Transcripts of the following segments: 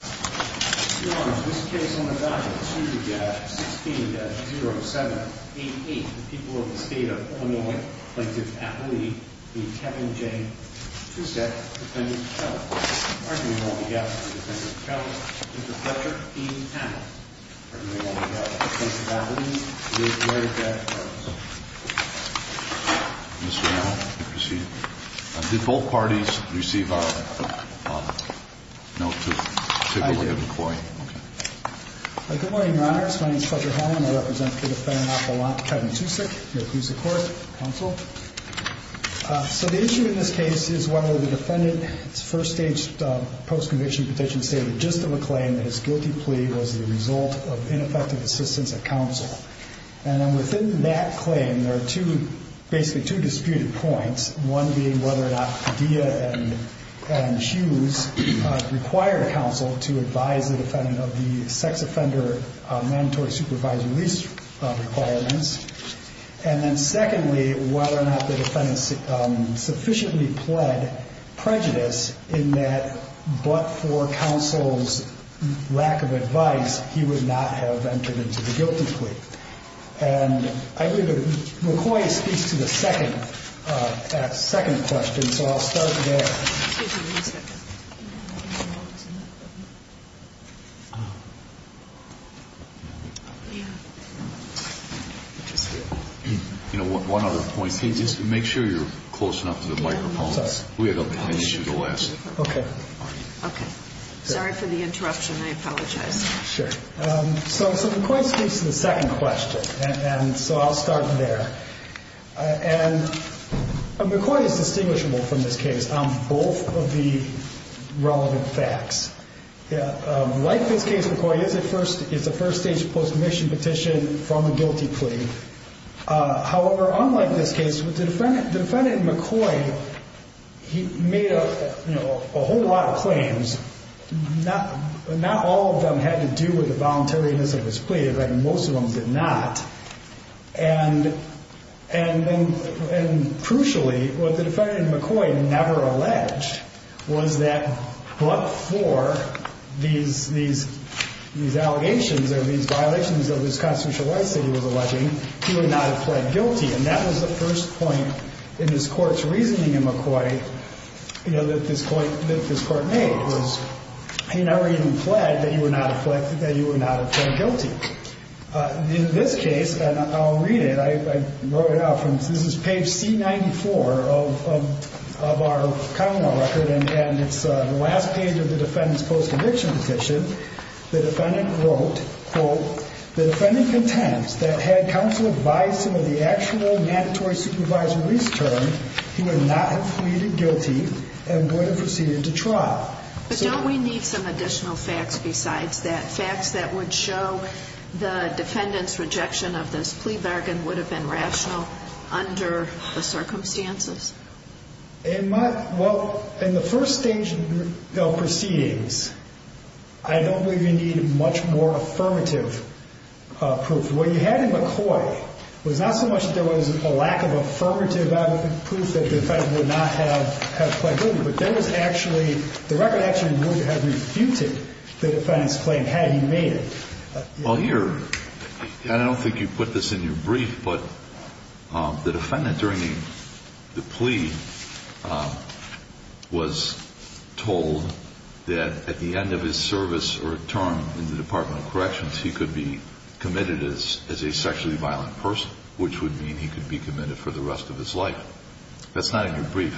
Your Honor, in this case on the value of 216-0788, the people of the State of Illinois plaintiff's appellee is Kevin J. Tucek, defendant's fellow. Arguing on behalf of the defendant's fellow, Mr. Fletcher E. Amell. Arguing on behalf of the plaintiff's appellee, Mr. Larry J. Carlson. Mr. Amell, you may proceed. Did both parties receive our note to the point? I did. Good morning, Your Honors. My name is Fletcher Heine. I represent the defendant, Kevin Tucek. Here to please the Court, Counsel. So the issue in this case is whether the defendant's first-stage post-conviction petition stated just of a claim that his guilty plea was the result of ineffective assistance at counsel. And then within that claim, there are two, basically two disputed points. One being whether or not Padilla and Hughes required counsel to advise the defendant of the sex offender mandatory supervisory release requirements. And then secondly, whether or not the defendant sufficiently pled prejudice in that but for counsel's lack of advice, he would not have entered into the guilty plea. And I believe that McCoy speaks to the second question, so I'll start there. You know, one other point. Just make sure you're close enough to the microphone. We have an issue to ask. Okay. Okay. Sorry for the interruption. I apologize. Sure. So McCoy speaks to the second question, and so I'll start there. And McCoy is distinguishable from this case on both of the relevant facts. Like this case, McCoy is a first-stage post-conviction petition from a guilty plea. However, unlike this case, the defendant, McCoy, he made a whole lot of claims. Not all of them had to do with the voluntariness of his plea. In fact, most of them did not. And crucially, what the defendant, McCoy, never alleged was that but for these allegations or these violations of his constitutional rights that he was alleging, he would not have pled guilty. And that was the first point in his court's reasoning in McCoy, you know, that this court made was he never even pled that he would not have pled guilty. In this case, and I'll read it. I wrote it out. This is page C94 of our common law record, and it's the last page of the defendant's post-conviction petition. The defendant wrote, quote, the defendant contends that had counsel advised him of the actual mandatory supervisory's term, he would not have pleaded guilty and would have proceeded to trial. But don't we need some additional facts besides that? Facts that would show the defendant's rejection of this plea bargain would have been rational under the circumstances? Well, in the first stage proceedings, I don't believe you need much more affirmative proof. What you had in McCoy was not so much that there was a lack of affirmative proof that the defendant would not have pled guilty, but there was actually the record actually moved to have refuted the defendant's claim had he made it. Well, here, I don't think you put this in your brief, but the defendant during the plea was told that at the end of his service or term in the Department of Corrections, he could be committed as a sexually violent person, which would mean he could be committed for the rest of his life. That's not in your brief.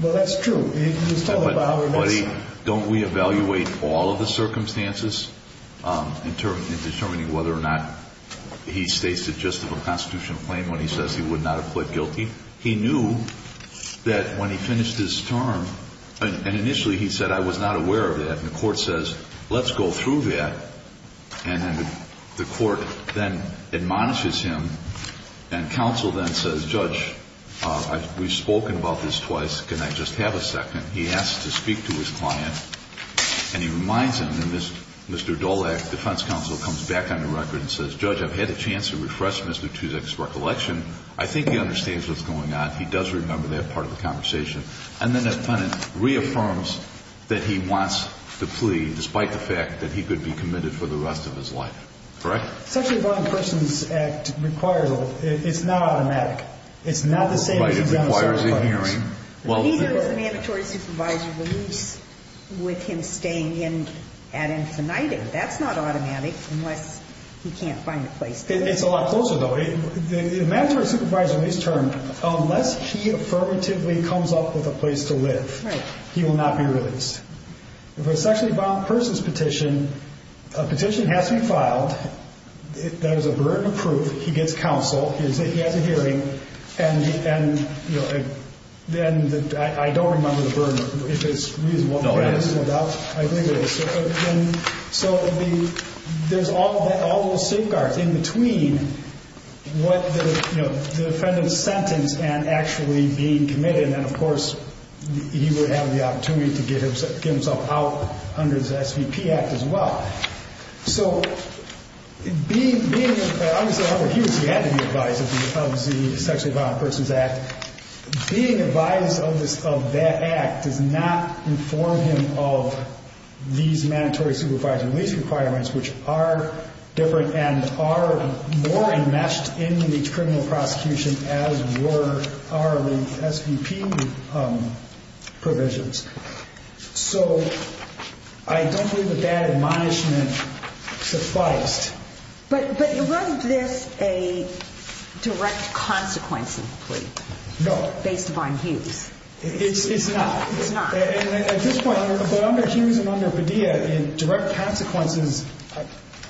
Well, that's true. But, Buddy, don't we evaluate all of the circumstances in determining whether or not he states the gist of a constitutional claim when he says he would not have pled guilty? He knew that when he finished his term, and initially he said, I was not aware of that, and the court says, let's go through that. And then the court then admonishes him, and counsel then says, Judge, we've spoken about this twice. Can I just have a second? He asks to speak to his client, and he reminds him, and Mr. Dolak, defense counsel, comes back on the record and says, Judge, I've had a chance to refresh Mr. Tuzek's recollection. I think he understands what's going on. He does remember that part of the conversation. And then the defendant reaffirms that he wants the plea, despite the fact that he could be committed for the rest of his life. Correct? Sexually violent persons act requires it. It's not automatic. It's not the same as the general circumstances. But it requires a hearing. He knows the mandatory supervisor leaves with him staying in ad infinitum. That's not automatic unless he can't find a place to stay. It's a lot closer, though. The mandatory supervisor leaves term unless he affirmatively comes up with a place to live. He will not be released. If it's a sexually violent person's petition, a petition has to be filed. There is a burden of proof. He gets counsel. He has a hearing. And then I don't remember the burden, if it's reasonable. No, it is. I think it is. So there's all those safeguards in between what the defendant sentenced and actually being committed. And, of course, he would have the opportunity to get himself out under the SVP Act as well. So being advised of that act does not inform him of these mandatory supervisor release requirements, which are different and are more enmeshed in the criminal prosecution as were our SVP provisions. So I don't believe that that admonishment sufficed. But was this a direct consequence plea based upon Hughes? No. It's not? It's not. At this point, under Hughes and under Padilla, direct consequences,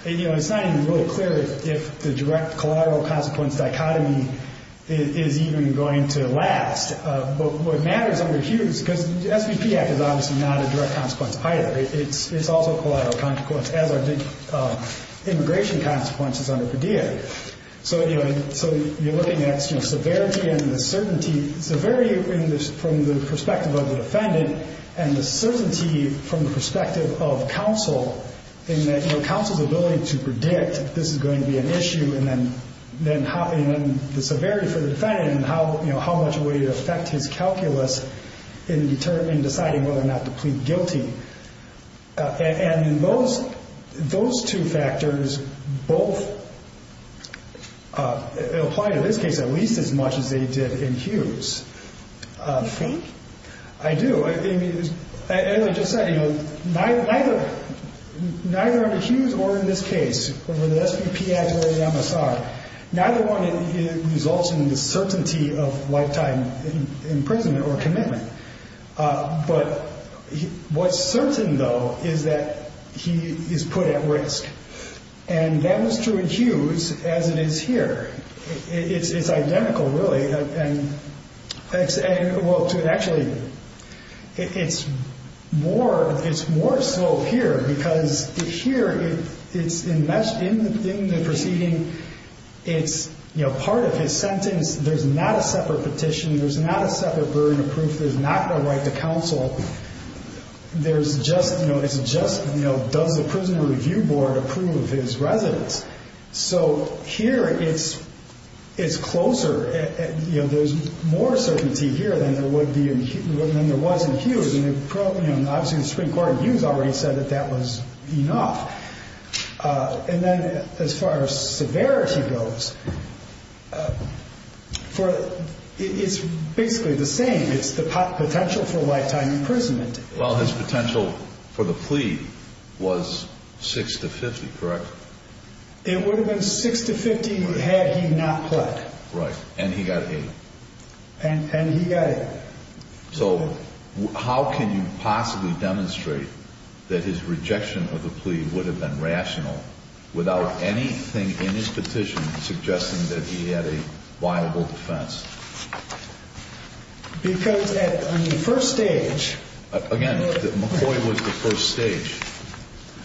you know, it's not even really clear if the direct collateral consequence dichotomy is even going to last. But what matters under Hughes, because the SVP Act is obviously not a direct consequence either. It's also a collateral consequence, as are the immigration consequences under Padilla. So, you know, so you're looking at, you know, severity and the certainty. Severity from the perspective of the defendant and the certainty from the perspective of counsel in that, you know, counsel's ability to predict this is going to be an issue and then the severity for the defendant and how, you know, how much would it affect his calculus in deciding whether or not to plead guilty. And those two factors both apply in this case at least as much as they did in Hughes. You think? I do. As I just said, you know, neither under Hughes or in this case, whether the SVP Act or the MSR, neither one results in the certainty of lifetime imprisonment or commitment. But what's certain, though, is that he is put at risk. And that was true in Hughes as it is here. It's identical, really. Well, actually, it's more so here because here it's enmeshed in the proceeding. It's, you know, part of his sentence. There's not a separate petition. There's not a separate burden of proof. There's not the right to counsel. There's just, you know, it's just, you know, does the Prison Review Board approve his residence? So here it's closer. You know, there's more certainty here than there was in Hughes. And, you know, obviously the Supreme Court in Hughes already said that that was enough. And then as far as severity goes, it's basically the same. It's the potential for lifetime imprisonment. Well, his potential for the plea was 6 to 50, correct? It would have been 6 to 50 had he not pled. Right. And he got 8. And he got 8. So how can you possibly demonstrate that his rejection of the plea would have been rational without anything in his petition suggesting that he had a viable defense? Because at the first stage. Again, McCoy was the first stage.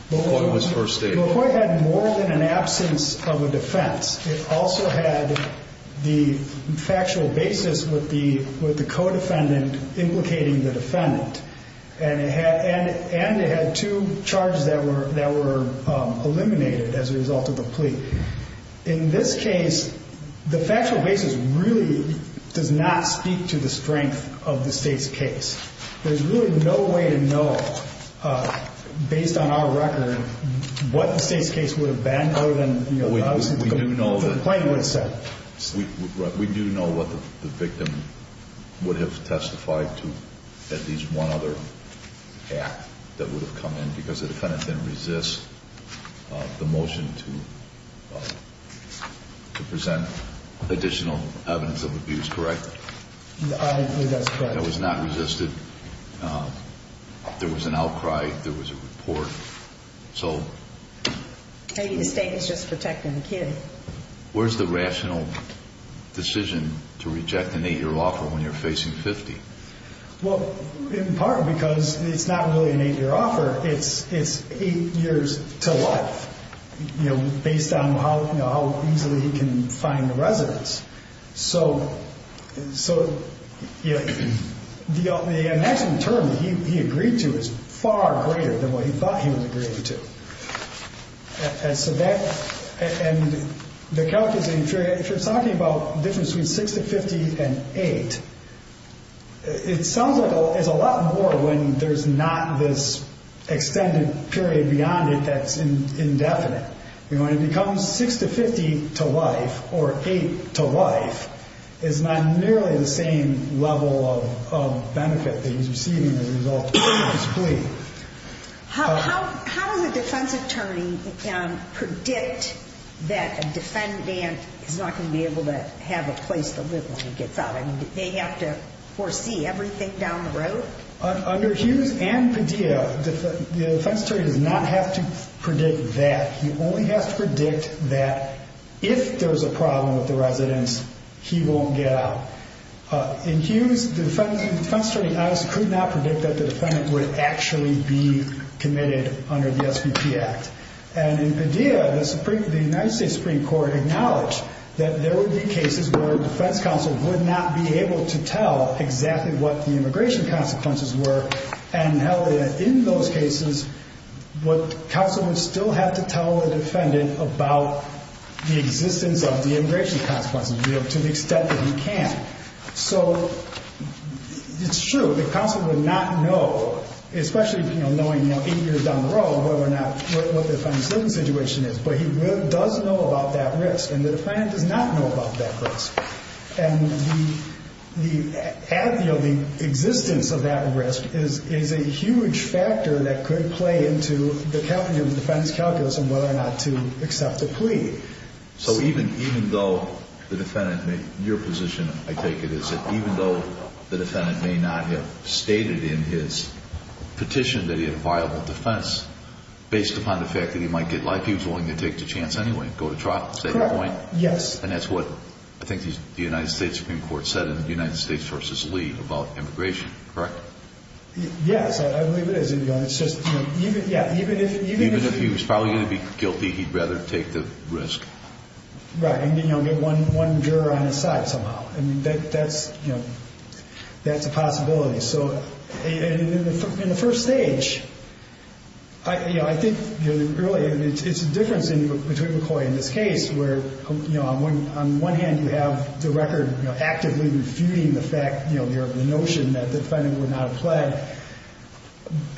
McCoy was first stage. McCoy had more than an absence of a defense. It also had the factual basis with the co-defendant implicating the defendant. And it had two charges that were eliminated as a result of the plea. In this case, the factual basis really does not speak to the strength of the State's case. There's really no way to know, based on our record, what the State's case would have been other than, you know, obviously the complaint would have said. We do know what the victim would have testified to at least one other act that would have come in because the defendant didn't resist the motion to present additional evidence of abuse, correct? It was not resisted. There was an outcry. There was a report. So. The State was just protecting the kid. Where's the rational decision to reject an 8-year offer when you're facing 50? Well, in part because it's not really an 8-year offer. It's 8 years to life, you know, based on how easily he can find a residence. So, you know, the maximum term that he agreed to is far greater than what he thought he was agreeing to. And so that, and the calculating, if you're talking about difference between 6 to 50 and 8, it sounds like it's a lot more when there's not this extended period beyond it that's indefinite. You know, when it becomes 6 to 50 to life or 8 to life, it's not nearly the same level of benefit that he's receiving as a result of his plea. How does a defense attorney predict that a defendant is not going to be able to have a place to live when he gets out? I mean, do they have to foresee everything down the road? Under Hughes and Padilla, the defense attorney does not have to predict that. He only has to predict that if there's a problem with the residence, he won't get out. In Hughes, the defense attorney could not predict that the defendant would actually be committed under the SBP Act. And in Padilla, the United States Supreme Court acknowledged that there would be cases where a defense counsel would not be able to tell exactly what the immigration consequences were, and held that in those cases, what counsel would still have to tell the defendant about the existence of the immigration consequences to the extent that he can. So it's true that counsel would not know, especially knowing 8 years down the road, what the defendant's living situation is. But he does know about that risk, and the defendant does not know about that risk. And the existence of that risk is a huge factor that could play into the defendant's calculus on whether or not to accept a plea. So even though the defendant may—your position, I take it, is that even though the defendant may not have stated in his petition that he had a viable defense, based upon the fact that he might get life, he was willing to take the chance anyway and go to trial? Is that your point? Correct. Yes. And that's what I think the United States Supreme Court said in the United States v. Lee about immigration, correct? Yes, I believe it is. Even if he was probably going to be guilty, he'd rather take the risk. Right, and get one juror on his side somehow. I mean, that's a possibility. So in the first stage, I think really it's a difference between McCoy and this case, where on one hand you have the record actively refuting the notion that the defendant would not have pled,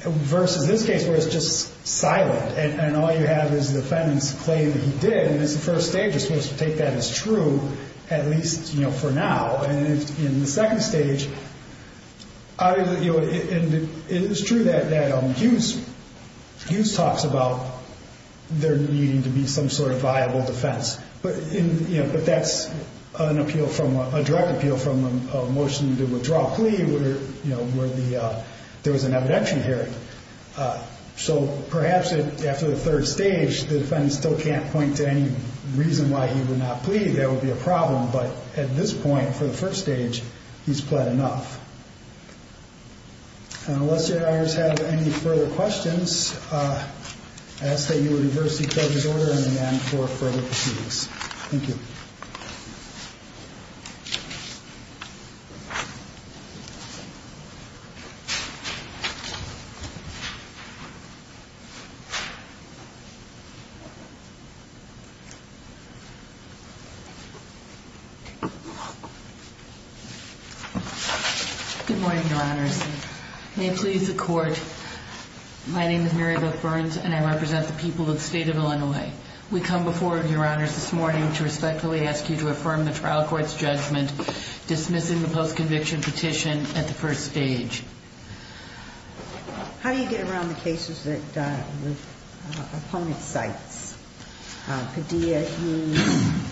versus this case where it's just silent and all you have is the defendant's claim that he did, and in the first stage you're supposed to take that as true, at least for now. And in the second stage, it is true that Hughes talks about there needing to be some sort of viable defense, but that's a direct appeal from a motion to withdraw a plea where there was an evidentiary hearing. So perhaps after the third stage, the defendant still can't point to any reason why he would not plead. That would be a problem, but at this point, for the first stage, he's pled enough. Unless your honors have any further questions, I ask that you reverse each other's order in the end for further proceedings. Thank you. Good morning, your honors. May it please the court, my name is Mary Beth Burns and I represent the people of the state of Illinois. We come before you, your honors, this morning to respectfully ask you to affirm the trial court's judgment dismissing the post-conviction petition at the first stage. How do you get around the cases that the opponent cites, Padilla, Hughes?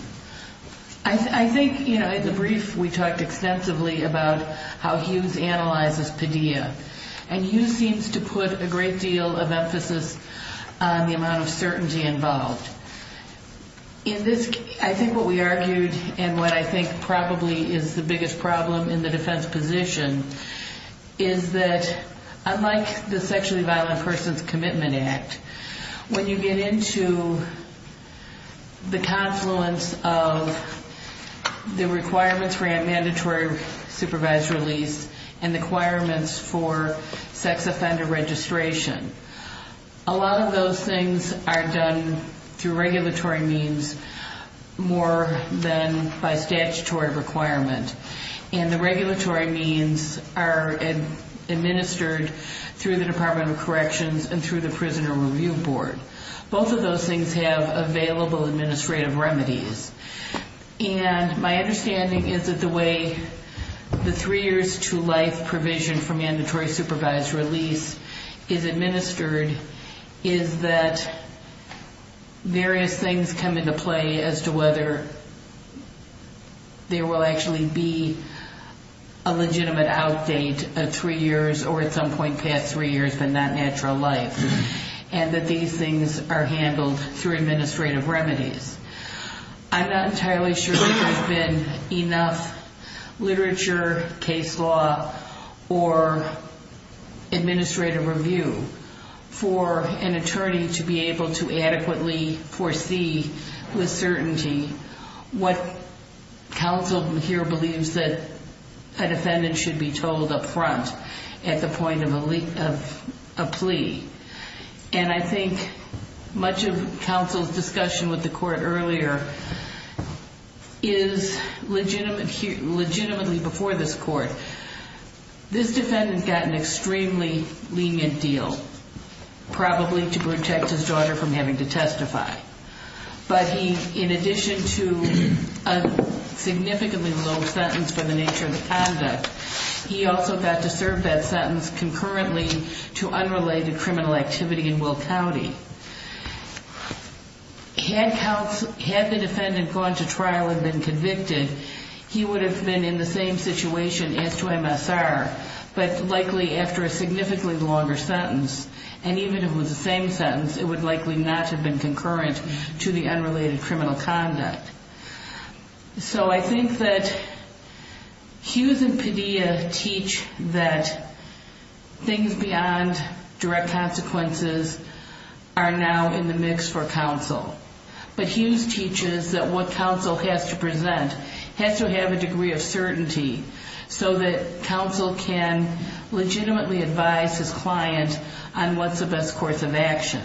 I think, you know, in the brief we talked extensively about how Hughes analyzes Padilla, and Hughes seems to put a great deal of emphasis on the amount of certainty involved. I think what we argued and what I think probably is the biggest problem in the defense position is that unlike the Sexually Violent Persons Commitment Act, when you get into the confluence of the requirements for a mandatory supervised release and the requirements for sex offender registration, a lot of those things are done through regulatory means more than by statutory requirement. And the regulatory means are administered through the Department of Corrections and through the Prisoner Review Board. Both of those things have available administrative remedies. And my understanding is that the way the three years to life provision for mandatory supervised release is administered is that various things come into play as to whether there will actually be a legitimate outdate of three years or at some point past three years of a non-natural life, and that these things are handled through administrative remedies. I'm not entirely sure there has been enough literature, case law, or administrative review for an attorney to be able to adequately foresee with certainty what counsel here believes that a defendant should be told upfront at the point of a plea. And I think much of counsel's discussion with the court earlier is legitimately before this court. This defendant got an extremely lenient deal, probably to protect his daughter from having to testify. But he, in addition to a significantly low sentence for the nature of the conduct, he also got to serve that sentence concurrently to unrelated criminal activity in Will County. Had the defendant gone to trial and been convicted, he would have been in the same situation as to MSR, but likely after a significantly longer sentence. And even if it was the same sentence, it would likely not have been concurrent to the unrelated criminal conduct. So I think that Hughes and Padilla teach that things beyond direct consequences are now in the mix for counsel. But Hughes teaches that what counsel has to present has to have a degree of certainty so that counsel can legitimately advise his client on what's the best course of action.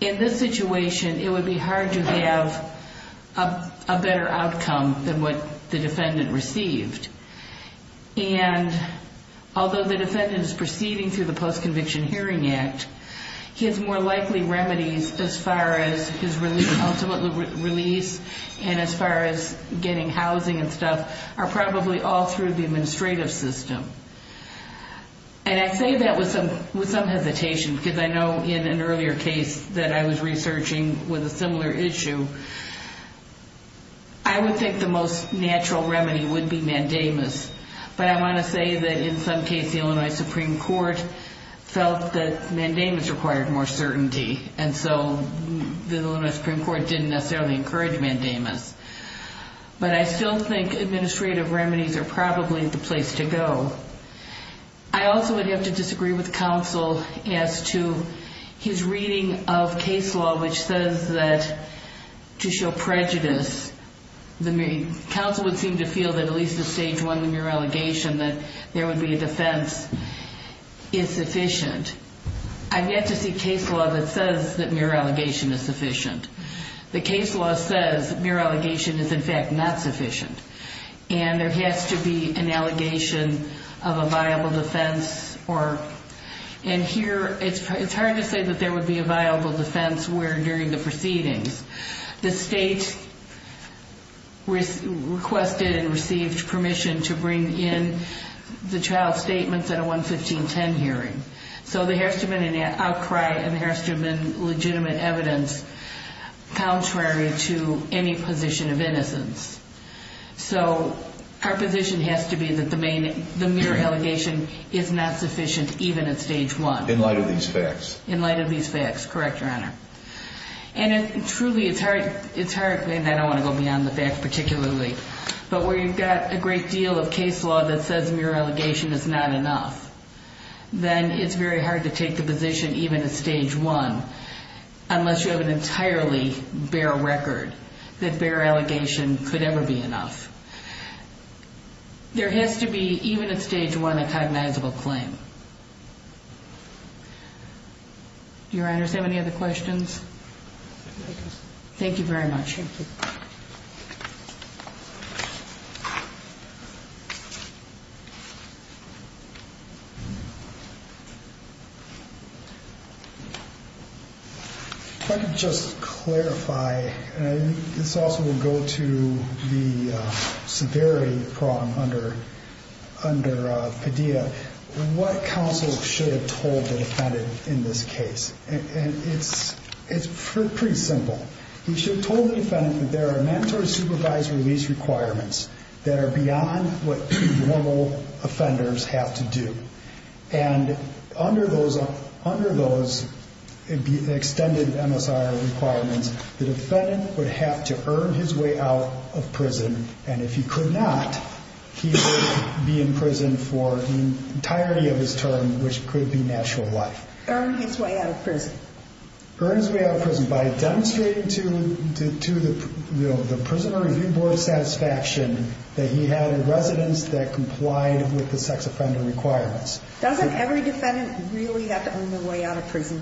In this situation, it would be hard to have a better outcome than what the defendant received. And although the defendant is proceeding through the Post-Conviction Hearing Act, his more likely remedies as far as his ultimate release and as far as getting housing and stuff are probably all through the administrative system. And I say that with some hesitation because I know in an earlier case that I was researching with a similar issue, I would think the most natural remedy would be mandamus. But I want to say that in some case the Illinois Supreme Court felt that mandamus required more certainty and so the Illinois Supreme Court didn't necessarily encourage mandamus. But I still think administrative remedies are probably the place to go. I also would have to disagree with counsel as to his reading of case law which says that to show prejudice, counsel would seem to feel that at least at stage one of mere allegation that there would be a defense is sufficient. I've yet to see case law that says that mere allegation is sufficient. The case law says mere allegation is in fact not sufficient. And there has to be an allegation of a viable defense. And here it's hard to say that there would be a viable defense where during the proceedings, the state requested and received permission to bring in the child's statements at a 11510 hearing. So there has to have been an outcry and there has to have been legitimate evidence contrary to any position of innocence. So our position has to be that the mere allegation is not sufficient even at stage one. In light of these facts. In light of these facts, correct, Your Honor. And truly it's hard, and I don't want to go beyond the facts particularly, but where you've got a great deal of case law that says mere allegation is not enough, then it's very hard to take the position even at stage one unless you have an entirely bare record that mere allegation could ever be enough. There has to be, even at stage one, a cognizable claim. Do Your Honors have any other questions? Thank you. If I could just clarify, and this also will go to the severity problem under Padilla, what counsel should have told the defendant in this case? And it's pretty simple. He should have told the defendant that there are mandatory supervisory release requirements that are beyond what normal offenders have to do. And under those extended MSR requirements, the defendant would have to earn his way out of prison, and if he could not, he would be in prison for the entirety of his term, which could be natural life. Earn his way out of prison. Earn his way out of prison by demonstrating to the Prisoner Review Board satisfaction that he had a residence that complied with the sex offender requirements. Doesn't every defendant really have to earn their way out of prison?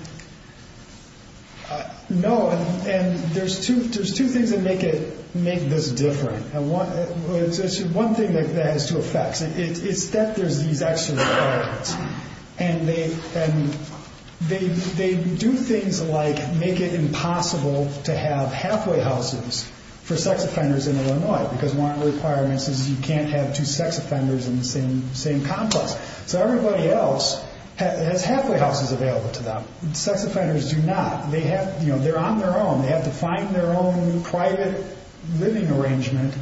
No, and there's two things that make this different. One thing that has two effects is that there's these extra requirements, and they do things like make it impossible to have halfway houses for sex offenders in Illinois because one of the requirements is you can't have two sex offenders in the same complex. So everybody else has halfway houses available to them. Sex offenders do not. They're on their own. They have to find their own private living arrangement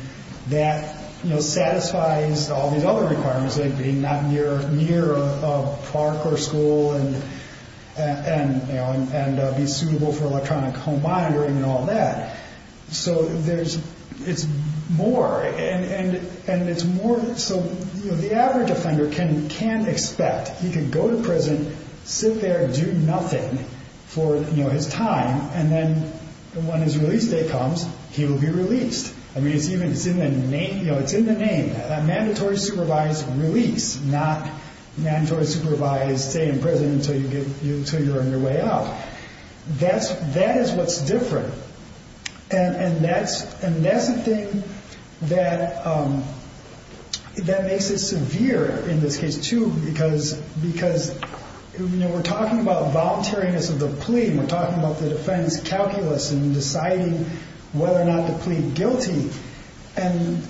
that satisfies all these other requirements, like being not near a park or school and be suitable for electronic home monitoring and all that. So it's more, and it's more so the average offender can't expect. He could go to prison, sit there and do nothing for his time, and then when his release date comes, he will be released. I mean, it's in the name. Mandatory supervised release, not mandatory supervised stay in prison until you're on your way out. That is what's different, and that's the thing that makes it severe in this case too because we're talking about voluntariness of the plea, and we're talking about the defense calculus in deciding whether or not to plead guilty, and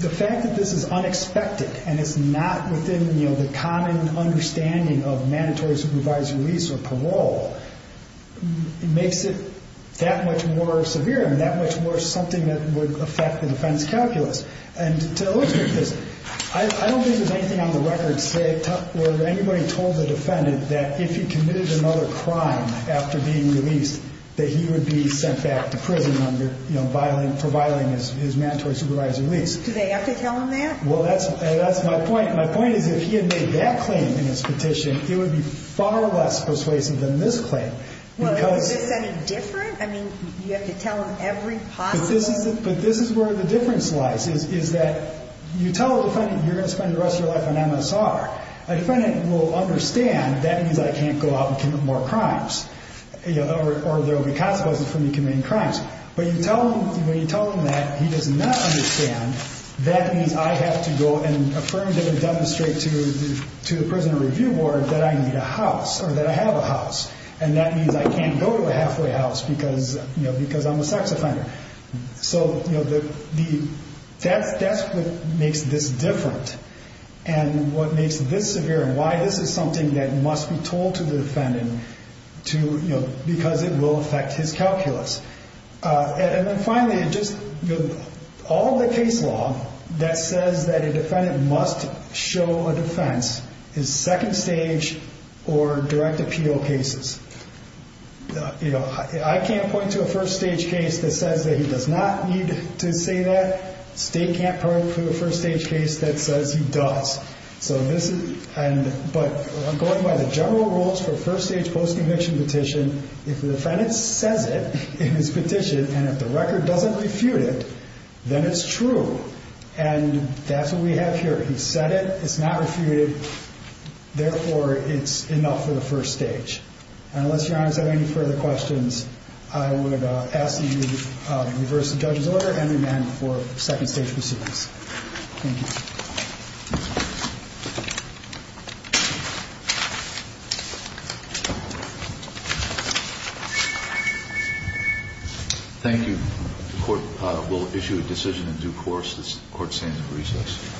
the fact that this is unexpected and it's not within the common understanding of mandatory supervised release or parole makes it that much more severe and that much more something that would affect the defense calculus. And to illustrate this, I don't think there's anything on the record where anybody told the defendant that if he committed another crime after being released, that he would be sent back to prison for violating his mandatory supervised release. Do they have to tell him that? Well, that's my point. My point is if he had made that claim in his petition, it would be far less persuasive than this claim. Well, is this any different? I mean, you have to tell him every possible— But this is where the difference lies, is that you tell the defendant you're going to spend the rest of your life on MSR. A defendant will understand that means I can't go out and commit more crimes or there will be consequences for me committing crimes. But when you tell him that, he does not understand that means I have to go and affirm and demonstrate to the prison review board that I need a house or that I have a house, and that means I can't go to a halfway house because I'm a sex offender. So that's what makes this different. And what makes this severe and why this is something that must be told to the defendant because it will affect his calculus. And then finally, all the case law that says that a defendant must show a defense is second stage or direct appeal cases. I can't point to a first stage case that says that he does not need to say that. State can't point to a first stage case that says he does. But going by the general rules for first stage post-conviction petition, if the defendant says it in his petition and if the record doesn't refute it, then it's true. And that's what we have here. He said it. It's not refuted. Therefore, it's enough for the first stage. And unless Your Honor has any further questions, I would ask that you reverse the judge's order and remand for second stage proceedings. Thank you. Thank you. Thank you. The court will issue a decision in due course. The court stands at recess.